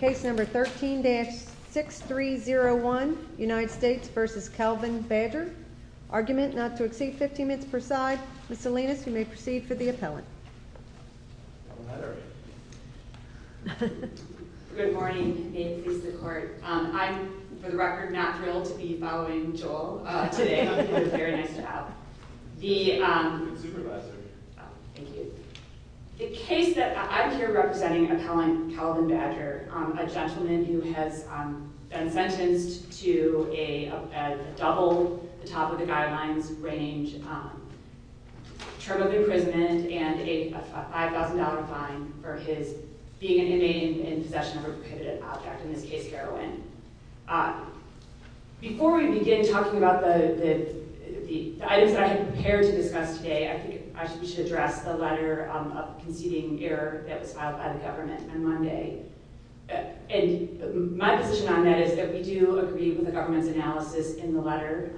Case number 13-6301, United States v. Calvin Badger. Argument not to exceed 15 minutes per side. Ms. Salinas, you may proceed for the appellant. Good morning. May it please the Court. I'm, for the record, not thrilled to be following Joel today. It was very nice to have him. Good supervisor. Thank you. The case that I'm here representing, appellant Calvin Badger, a gentleman who has been sentenced to a double, the top of the guidelines range, term of imprisonment and a $5,000 fine for his being an inmate in possession of a prohibited object, in this case, heroin. Before we begin talking about the items that I have prepared to discuss today, I think we should address the letter of conceding error that was filed by the government on Monday. My position on that is that we do agree with the government's analysis in the letter.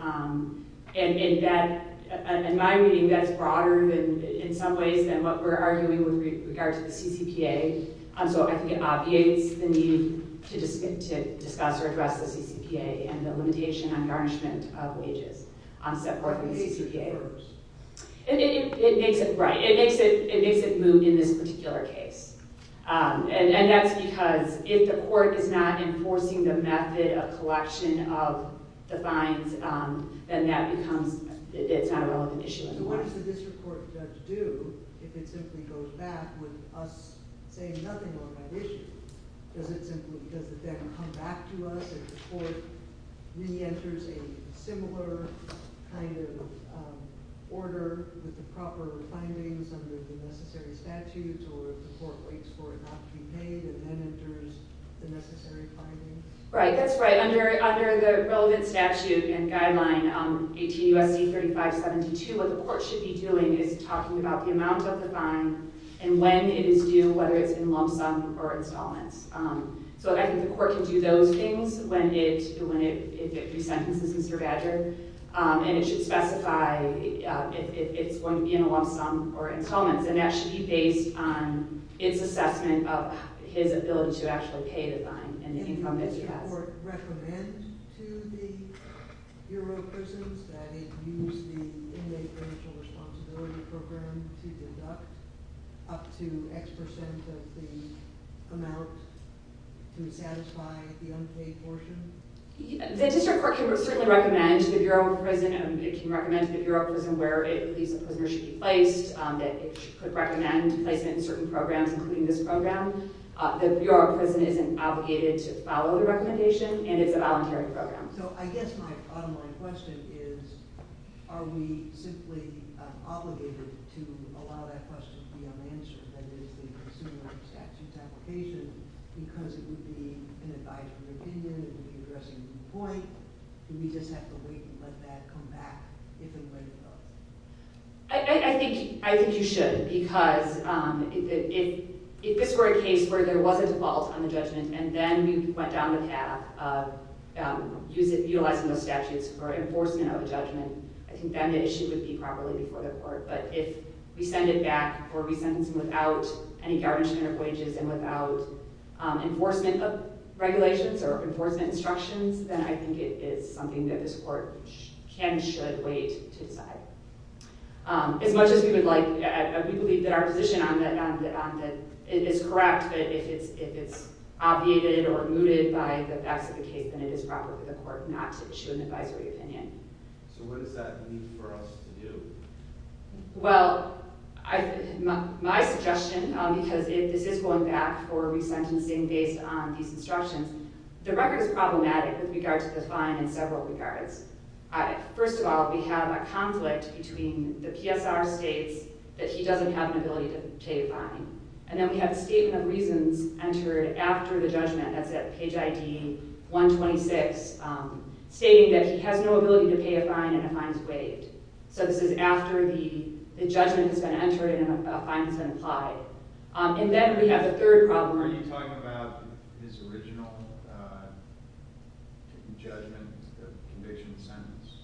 In my reading, that's broader in some ways than what we're arguing with regard to the CCPA. I think it obviates the need to discuss or address the CCPA and the limitation on garnishment of wages set forth in the CCPA. It makes it move in this particular case. That's because if the court is not enforcing the method of collection of the fines, then it's not a relevant issue anymore. What does the district court judge do if it simply goes back with us saying nothing on that issue? Does it then come back to us if the court re-enters a similar kind of order with the proper findings under the necessary statutes or if the court waits for it not to be made and then enters the necessary findings? That's right. Under the relevant statute and guideline 18 U.S.C. 3572, what the court should be doing is talking about the amount of the fine and when it is due, whether it's in lump sum or installments. I think the court can do those things if it resentences Mr. Badger. It should specify if it's going to be in a lump sum or installments. That should be based on its assessment of his ability to actually pay the fine and the income that he has. Does the district court recommend to the Bureau of Prisons that it use the Inmate Financial Responsibility Program to deduct up to X percent of the amount to satisfy the unpaid portion? The district court can certainly recommend to the Bureau of Prisons and it can recommend to the Bureau of Prisons where it believes the prisoner should be placed, that it should recommend placement in certain programs including this program. The Bureau of Prisons isn't obligated to follow the recommendation and it's a voluntary program. So I guess my bottom line question is are we simply obligated to allow that question to be unanswered, that is the consumer of statute application, because it would be an advisory opinion, it would be addressing the point. Do we just have to wait and let that come back if and when it does? I think you should, because if this were a case where there was a default on the judgment and then we went down the path of utilizing those statutes for enforcement of the judgment, I think then the issue would be properly before the court. But if we send it back for resentencing without any guard instrument of wages and without enforcement of regulations or enforcement instructions, then I think it is something that this court can and should wait to decide. As much as we believe that our position is correct, but if it's obviated or mooted by the facts of the case, then it is proper for the court not to issue an advisory opinion. So what does that mean for us to do? Well, my suggestion, because if this is going back for resentencing based on these instructions, the record is problematic with regard to the fine in several regards. First of all, we have a conflict between the PSR states that he doesn't have an ability to pay a fine, and then we have a statement of reasons entered after the judgment, that's at page ID 126, stating that he has no ability to pay a fine and the fine is waived. So this is after the judgment has been entered and a fine has been applied. And then we have the third problem. So are you talking about his original judgment, the conviction sentence?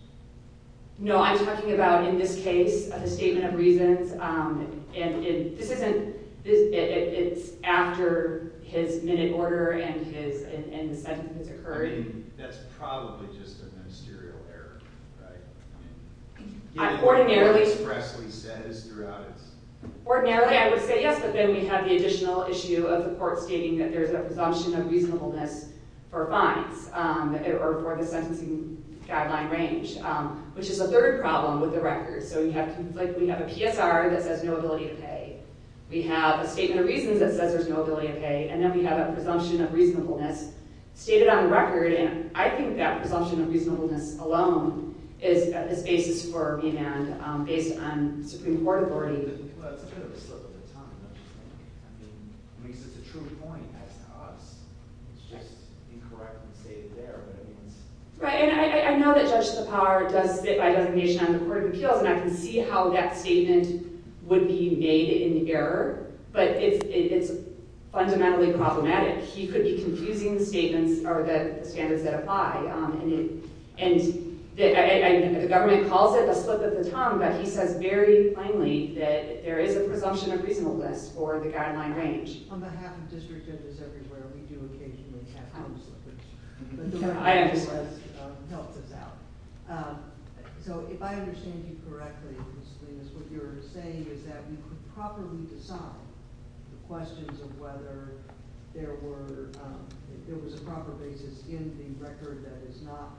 No, I'm talking about in this case, the statement of reasons. And this isn't – it's after his minute order and the sentence has occurred. I mean, that's probably just a ministerial error, right? I mean, getting expressly said is throughout its – the Supreme Court stating that there's a presumption of reasonableness for fines or for the sentencing guideline range, which is the third problem with the record. So you have – like we have a PSR that says no ability to pay. We have a statement of reasons that says there's no ability to pay, and then we have a presumption of reasonableness stated on the record, and I think that presumption of reasonableness alone is at this basis for remand based on Supreme Court authority. Well, that's a bit of a slip of the tongue, I'm just saying. I mean, at least it's a true point as to us. It's just incorrectly stated there, but I mean it's – Right, and I know that Judge Sipar does sit by designation on the Court of Appeals, and I can see how that statement would be made in error, but it's fundamentally problematic. He could be confusing the statements or the standards that apply. And the government calls it a slip of the tongue, but he says very plainly that there is a presumption of reasonableness for the guideline range. On behalf of district judges everywhere, we do occasionally have slip of the tongue. I understand. So if I understand you correctly, Ms. Slinas, what you're saying is that we could properly decide the questions of whether there were – that is not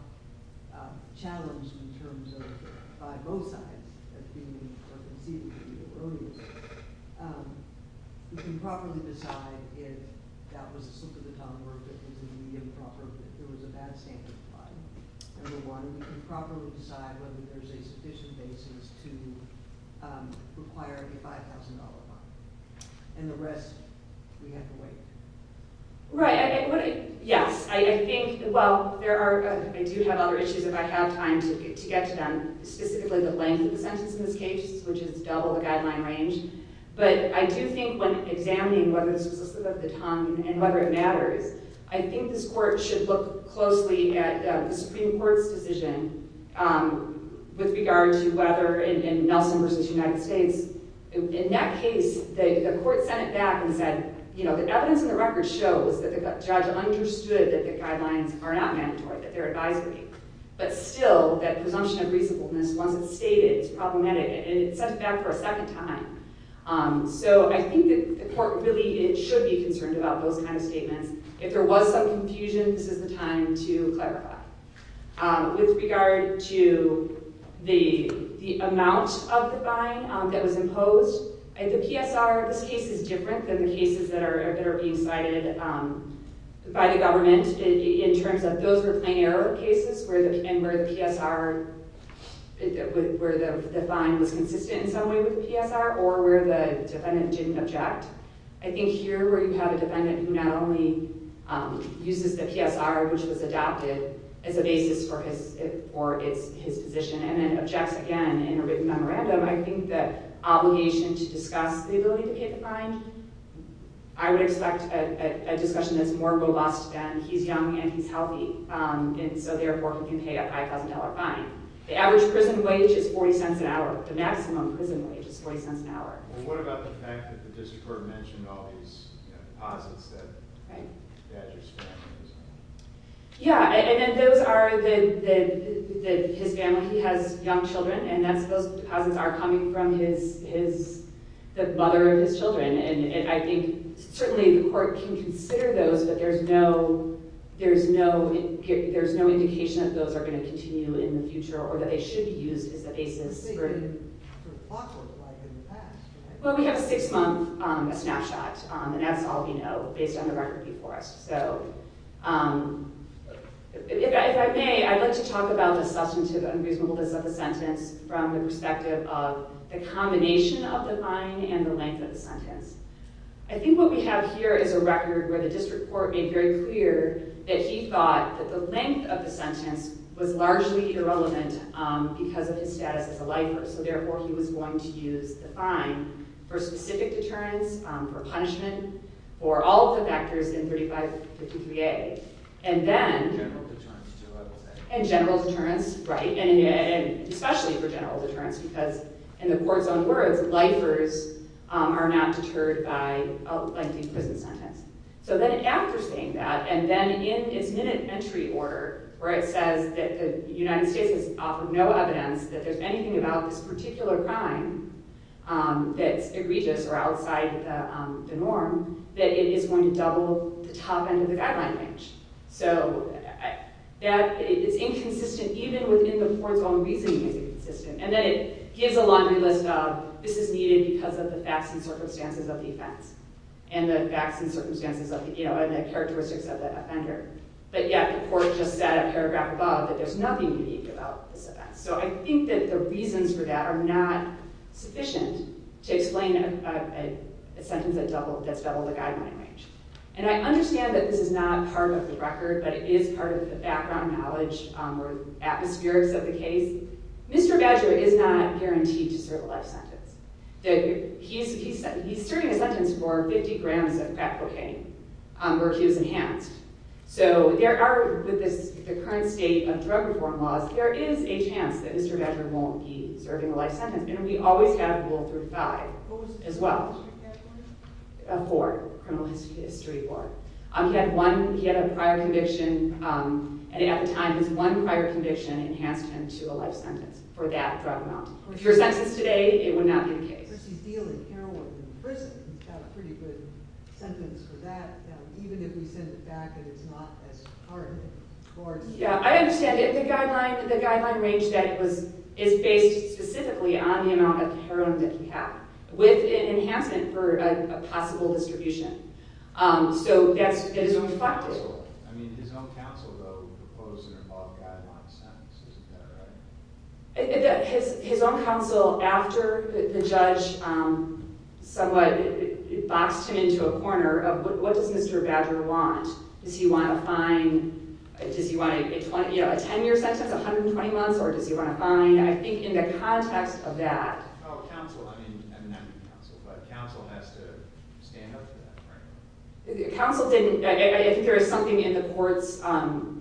challenged in terms of – by both sides, as being conceded to me earlier. We can properly decide if that was a slip of the tongue or if it was an improper – if there was a bad standard applied. Number one, we can properly decide whether there's a sufficient basis to require a $5,000 fine. And the rest, we have to wait. Right. Yes. I think – well, there are – I do have other issues if I have time to get to them, specifically the length of the sentence in this case, which is double the guideline range. But I do think when examining whether this was a slip of the tongue and whether it matters, I think this Court should look closely at the Supreme Court's decision with regard to whether – in Nelson v. United States, in that case, the Court sent it back and said, you know, the evidence in the record shows that the judge understood that the guidelines are not mandatory, that they're advisory. But still, that presumption of reasonableness wasn't stated. It's problematic. And it sent it back for a second time. So I think that the Court really should be concerned about those kind of statements. If there was some confusion, this is the time to clarify. With regard to the amount of the fine that was imposed, the PSR of this case is different than the cases that are being cited by the government in terms of those were plain error cases and where the PSR – where the fine was consistent in some way with the PSR or where the defendant didn't object. I think here, where you have a defendant who not only uses the PSR, which was adopted, as a basis for his position and then objects again in a written memorandum, I think the obligation to discuss the ability to pay the fine, I would expect a discussion that's more robust than he's young and he's healthy, and so therefore he can pay a $5,000 fine. The average prison wage is $0.40 an hour. The maximum prison wage is $0.40 an hour. Well, what about the fact that the district court mentioned all these deposits that Badger's family used? Yeah, and those are the – his family, he has young children, and those deposits are coming from his – the mother of his children, and I think certainly the court can consider those, but there's no indication that those are going to continue in the future or that they should be used as a basis for – But they did for Foxworth, right, in the past, right? Well, we have a six-month snapshot, and that's all we know based on the record before us. So if I may, I'd like to talk about the substantive unreasonableness of the sentence. From the perspective of the combination of the fine and the length of the sentence. I think what we have here is a record where the district court made very clear that he thought that the length of the sentence was largely irrelevant because of his status as a lifer, so therefore he was going to use the fine for specific deterrence, for punishment, for all of the factors in 3553A, and then – General deterrence, too, I would say. Because in the court's own words, lifers are not deterred by a lengthy prison sentence. So then after saying that, and then in its minute entry order, where it says that the United States has offered no evidence that there's anything about this particular crime that's egregious or outside the norm, that it is going to double the top end of the guideline range. So it's inconsistent even within the court's own reasoning that it's inconsistent. And then it gives a laundry list of, this is needed because of the facts and circumstances of the offense, and the facts and circumstances and the characteristics of the offender. But yet the court just said a paragraph above that there's nothing unique about this offense. So I think that the reasons for that are not sufficient to explain a sentence that's doubled the guideline range. And I understand that this is not part of the record, but it is part of the background knowledge or atmospherics of the case. Mr. Badger is not guaranteed to serve a life sentence. He's serving a sentence for 50 grams of crack cocaine, where he was enhanced. So there are, with the current state of drug reform laws, there is a chance that Mr. Badger won't be serving a life sentence. And we always have rule 35 as well. A hoard, a criminal history hoard. He had a prior conviction, and at the time, his one prior conviction enhanced him to a life sentence for that drug amount. If you're sentenced today, it would not be the case. I understand that the guideline range is based specifically on the amount of heroin that he had. With an enhancement for a possible distribution. So that is reflected. His own counsel, after the judge somewhat boxed him into a corner of what does Mr. Badger want? Does he want a fine? Does he want a 10-year sentence, 120 months? Or does he want a fine? I think in the context of that. But counsel has to stand up for that, right? Counsel didn't. I think there is something in the court's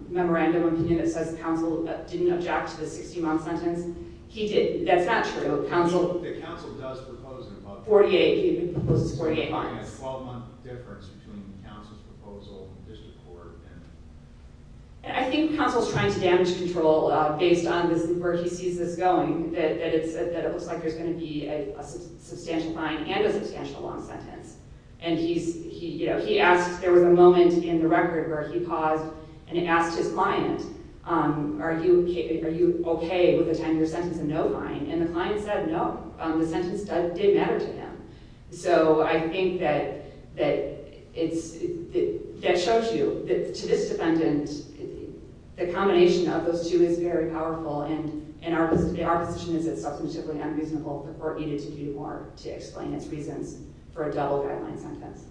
memorandum of opinion that says counsel didn't object to the 60-month sentence. He did. That's not true. Counsel. Counsel does propose an above 40. 48. He proposes 48 months. There's a 12-month difference between counsel's proposal and the district court. I think counsel's trying to damage control based on where he sees this going. That it looks like there's going to be a substantial fine and a substantial long sentence. And he asked, there was a moment in the record where he paused and asked his client, are you okay with a 10-year sentence and no fine? And the client said no. The sentence did matter to him. So I think that shows you that to this defendant, the combination of those two is very powerful. And our position is it's substantively unreasonable. The court needed to do more to explain its reasons for a double guideline sentence.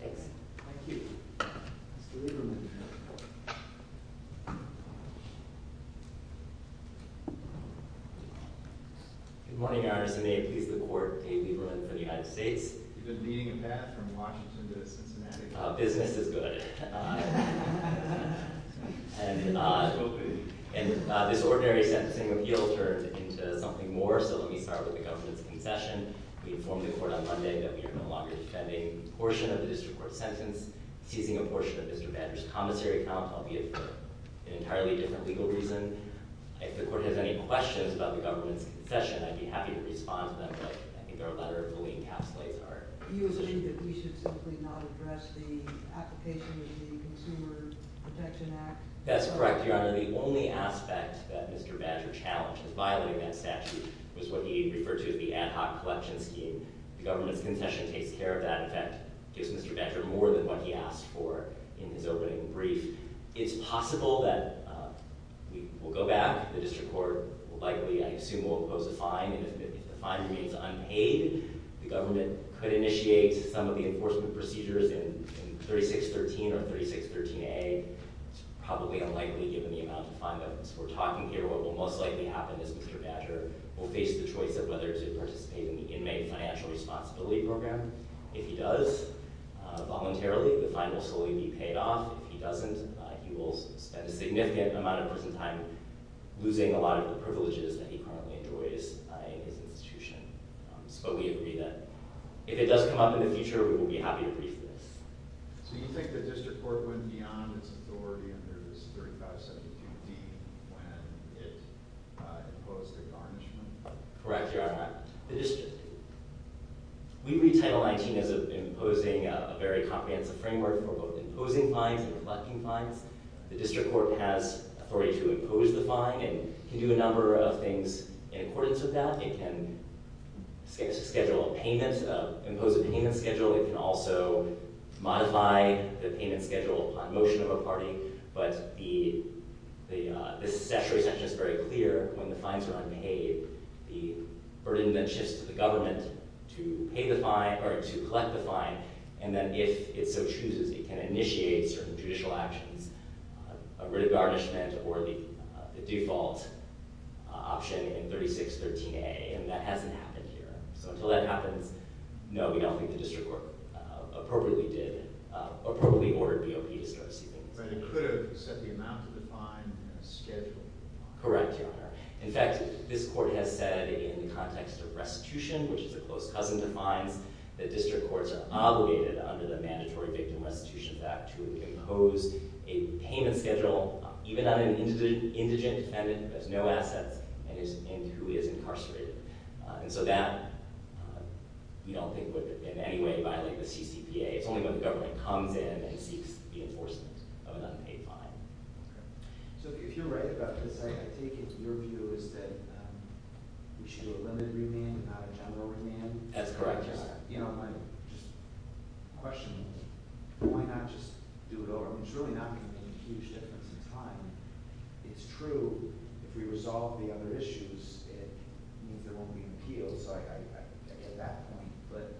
Thanks. Thank you. Mr. Lieberman. Good morning, Your Honor. So may it please the court. Dave Lieberman from the United States. You've been leading a path from Washington to Cincinnati. Business is good. And this ordinary sentencing appeal turned into something more. So let me start with the government's concession. We informed the court on Monday that we are no longer defending a portion of the district court's sentence, seizing a portion of Mr. Bander's commissary account, albeit for an entirely different legal reason. If the court has any questions about the government's concession, I'd be happy to respond to them. But I think our letter fully encapsulates our position. Do you agree that we should simply not address the application of the Consumer Protection Act? That's correct, Your Honor. The only aspect that Mr. Bander challenged in violating that statute was what he referred to as the ad hoc collection scheme. The government's concession takes care of that. In fact, it gives Mr. Bander more than what he asked for in his opening brief. It's possible that we will go back. And if the fine remains unpaid, the government could initiate some of the enforcement procedures in 3613 or 3613A. It's probably unlikely given the amount of fine that we're talking here. What will most likely happen is Mr. Bander will face the choice of whether to participate in the inmate financial responsibility program. If he does voluntarily, the fine will solely be paid off. If he doesn't, he will spend a significant amount of his time losing a lot of the privileges that he currently enjoys in his institution. So we agree that if it does come up in the future, we will be happy to brief this. So you think the district court went beyond its authority under 3572D when it imposed a garnishment? Correct, Your Honor. We read Title 19 as imposing a very comprehensive framework for both imposing fines and collecting fines. The district court has authority to impose the fine and can do a number of things in accordance with that. It can schedule a payment, impose a payment schedule. It can also modify the payment schedule upon motion of a party. But the statutory section is very clear. When the fines are unpaid, the burden then shifts to the government to pay the fine or to collect the fine. And then if it so chooses, it can initiate certain judicial actions, a writ of garnishment, or the default option in 3613A. And that hasn't happened here. So until that happens, no, we don't think the district court appropriately ordered BOP to start its proceedings. But it could have set the amount of the fine and a schedule. Correct, Your Honor. In fact, this court has said in the context of restitution, which is a close cousin to fines, that district courts are obligated under the Mandatory Victim Restitution Act to impose a payment schedule even on an indigent defendant who has no assets and who is incarcerated. And so that we don't think would in any way violate the CCPA. It's only when the government comes in and seeks the enforcement of an unpaid fine. Okay. So if you're right about this, I take it your view is that we should do a limited remand and not a general remand? That's correct, Your Honor. You know, my question is why not just do it over? I mean, it's really not going to make a huge difference in time. It's true if we resolve the other issues, it means there won't be an appeal. So I get that point. But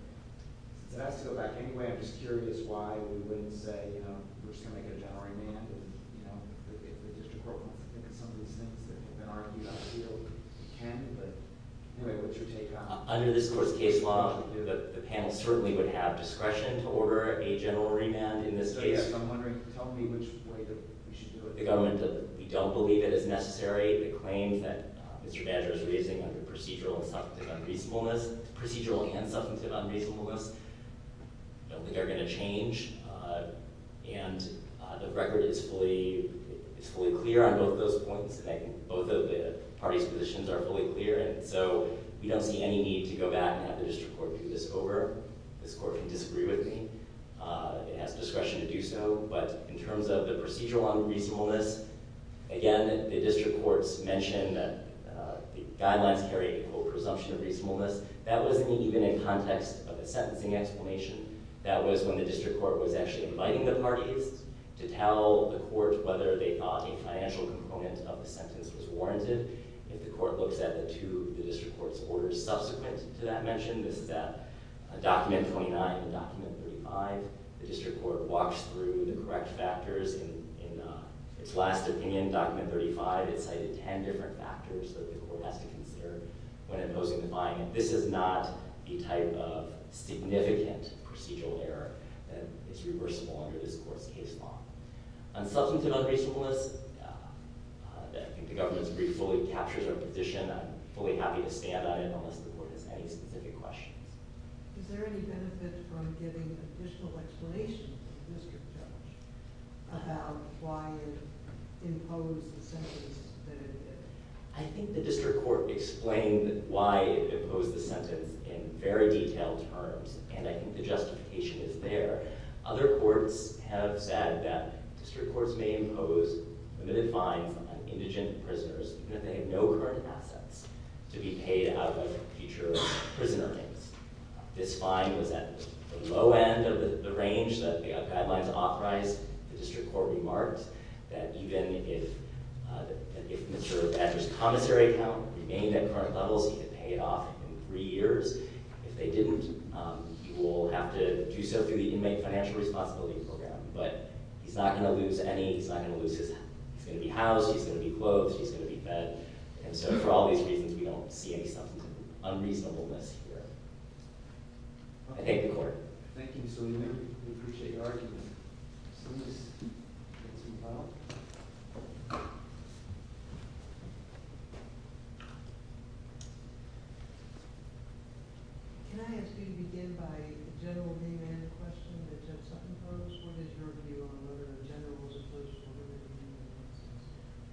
that has to go back. Anyway, I'm just curious why we wouldn't say, you know, we're just going to make a general remand and, you know, if the district court wants to think of some of these things that have been argued on the field, we can, but anyway, what's your take on it? Under this court's case law, the panel certainly would have discretion to order a general remand in this case. So, yes, I'm wondering, tell me which way that we should do it. The government, we don't believe it is necessary. The claims that Mr. Badger is raising under procedural and substantive unreasonableness, I don't think are going to change. And the record is fully clear on both those points. Both of the parties' positions are fully clear. And so we don't see any need to go back and have the district court do this over. This court can disagree with me. It has discretion to do so. But in terms of the procedural unreasonableness, again, the district courts mentioned that the guidelines carry a presumption of reasonableness. That wasn't even in context of a sentencing explanation. That was when the district court was actually inviting the parties to tell the court whether they thought a financial component of the sentence was warranted. If the court looks at the two district court's orders subsequent to that mention, this is at document 29 and document 35, the district court walks through the correct factors. In its last opinion, document 35, it cited ten different factors that the court has to consider when imposing the fine. And this is not a type of significant procedural error that is reversible under this court's case law. On substantive unreasonableness, I think the government's brief fully captures our position. I'm fully happy to stand on it unless the court has any specific questions. Is there any benefit from giving additional explanation to the district judge about why it imposed the sentence that it did? I think the district court explained why it imposed the sentence in very detailed terms, and I think the justification is there. Other courts have said that district courts may impose limited fines on indigent prisoners even if they have no current assets to be paid out of a future prisoner case. This fine was at the low end of the range that the guidelines authorized. The district court remarked that even if Mr. Edwards' commissary account remained at current levels, he could pay it off in three years. If they didn't, he will have to do so through the Inmate Financial Responsibility Program. But he's not going to lose any. He's not going to lose his house. He's going to be housed. And so for all these reasons, we don't see any sense of unreasonableness here. I thank the court. Thank you, Mr. Newman. We appreciate your argument. So let's move on. Can I ask you to begin by a general name and a question that Judge Sutton posed? What is your view on whether the general rules of procedure were limited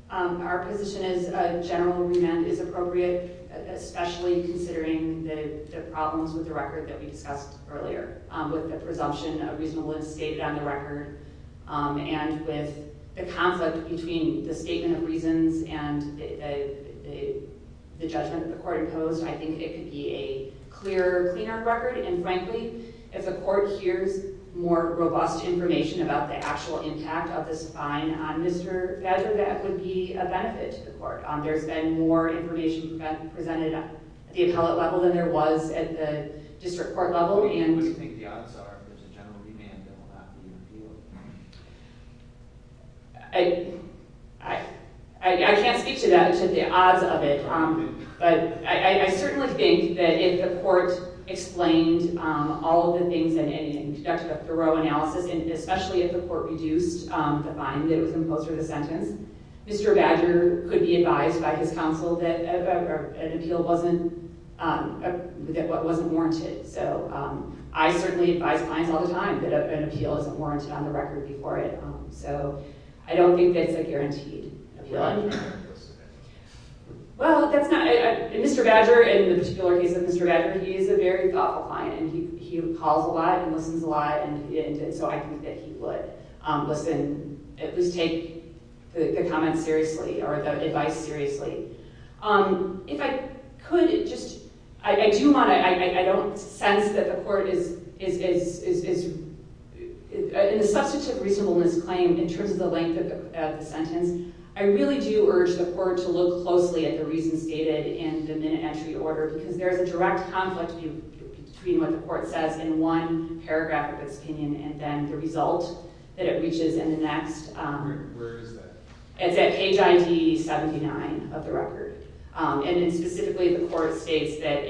in any way? Our position is a general remand is appropriate, especially considering the problems with the record that we discussed earlier, with the presumption of reasonableness stated on the record and with the conflict between the statement of reasons and the judgment that the court imposed. I think it could be a clearer, cleaner record. And frankly, if the court hears more robust information about the actual impact of this fine on Mr. Federer, that would be a benefit to the court. There's been more information presented at the appellate level than there was at the district court level. What do you think the odds are that there's a general remand that will not be repealed? I can't speak to that, to the odds of it. But I certainly think that if the court explained all of the things and conducted a thorough analysis, and especially if the court reduced the fine that was imposed for the sentence, Mr. Badger could be advised by his counsel that an appeal wasn't warranted. So I certainly advise clients all the time that an appeal isn't warranted on the record before it. So I don't think that's a guarantee. Well, Mr. Badger, in the particular case of Mr. Badger, he is a very thoughtful client, and he calls a lot and listens a lot, and so I think that he would listen, at least take the comments seriously or the advice seriously. If I could, I don't sense that the court is in a substantive reasonableness claim in terms of the length of the sentence. I really do urge the court to look closely at the reasons stated in the minute entry order, because there is a direct conflict between what the court says in one paragraph of its opinion and then the result that it reaches in the next. Where is that? It's at page ID 79 of the record. And specifically, the court states that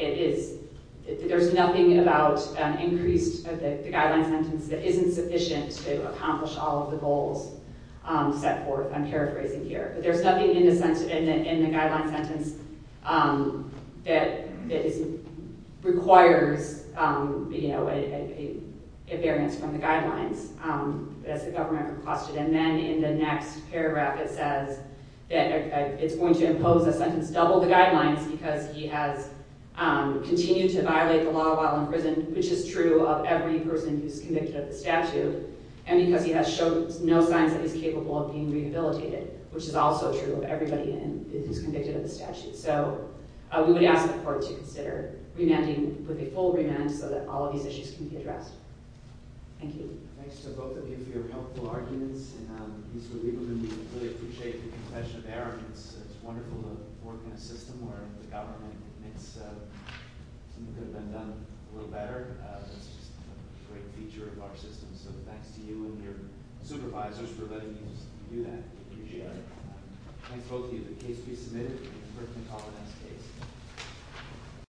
there's nothing about an increase of the guideline sentence that isn't sufficient to accomplish all of the goals set forth. I'm paraphrasing here. But there's nothing in the guideline sentence that requires a variance from the guidelines. That's the government requested. And then in the next paragraph, it says that it's going to impose a sentence double the guidelines because he has continued to violate the law while in prison, which is true of every person who's convicted of the statute, and because he has shown no signs that he's capable of being rehabilitated, which is also true of everybody who's convicted of the statute. So we would ask the court to consider remanding with a full remand so that all of these issues can be addressed. Thank you. Thanks to both of you for your helpful arguments. And Mr. Lieberman, we really appreciate the confession of error. It's wonderful to work in a system where the government admits something could have been done a little better. It's just a great feature of our system. So thanks to you and your supervisors for letting us do that. Appreciate it. Thanks both of you. The case will be submitted. The court can call the next case.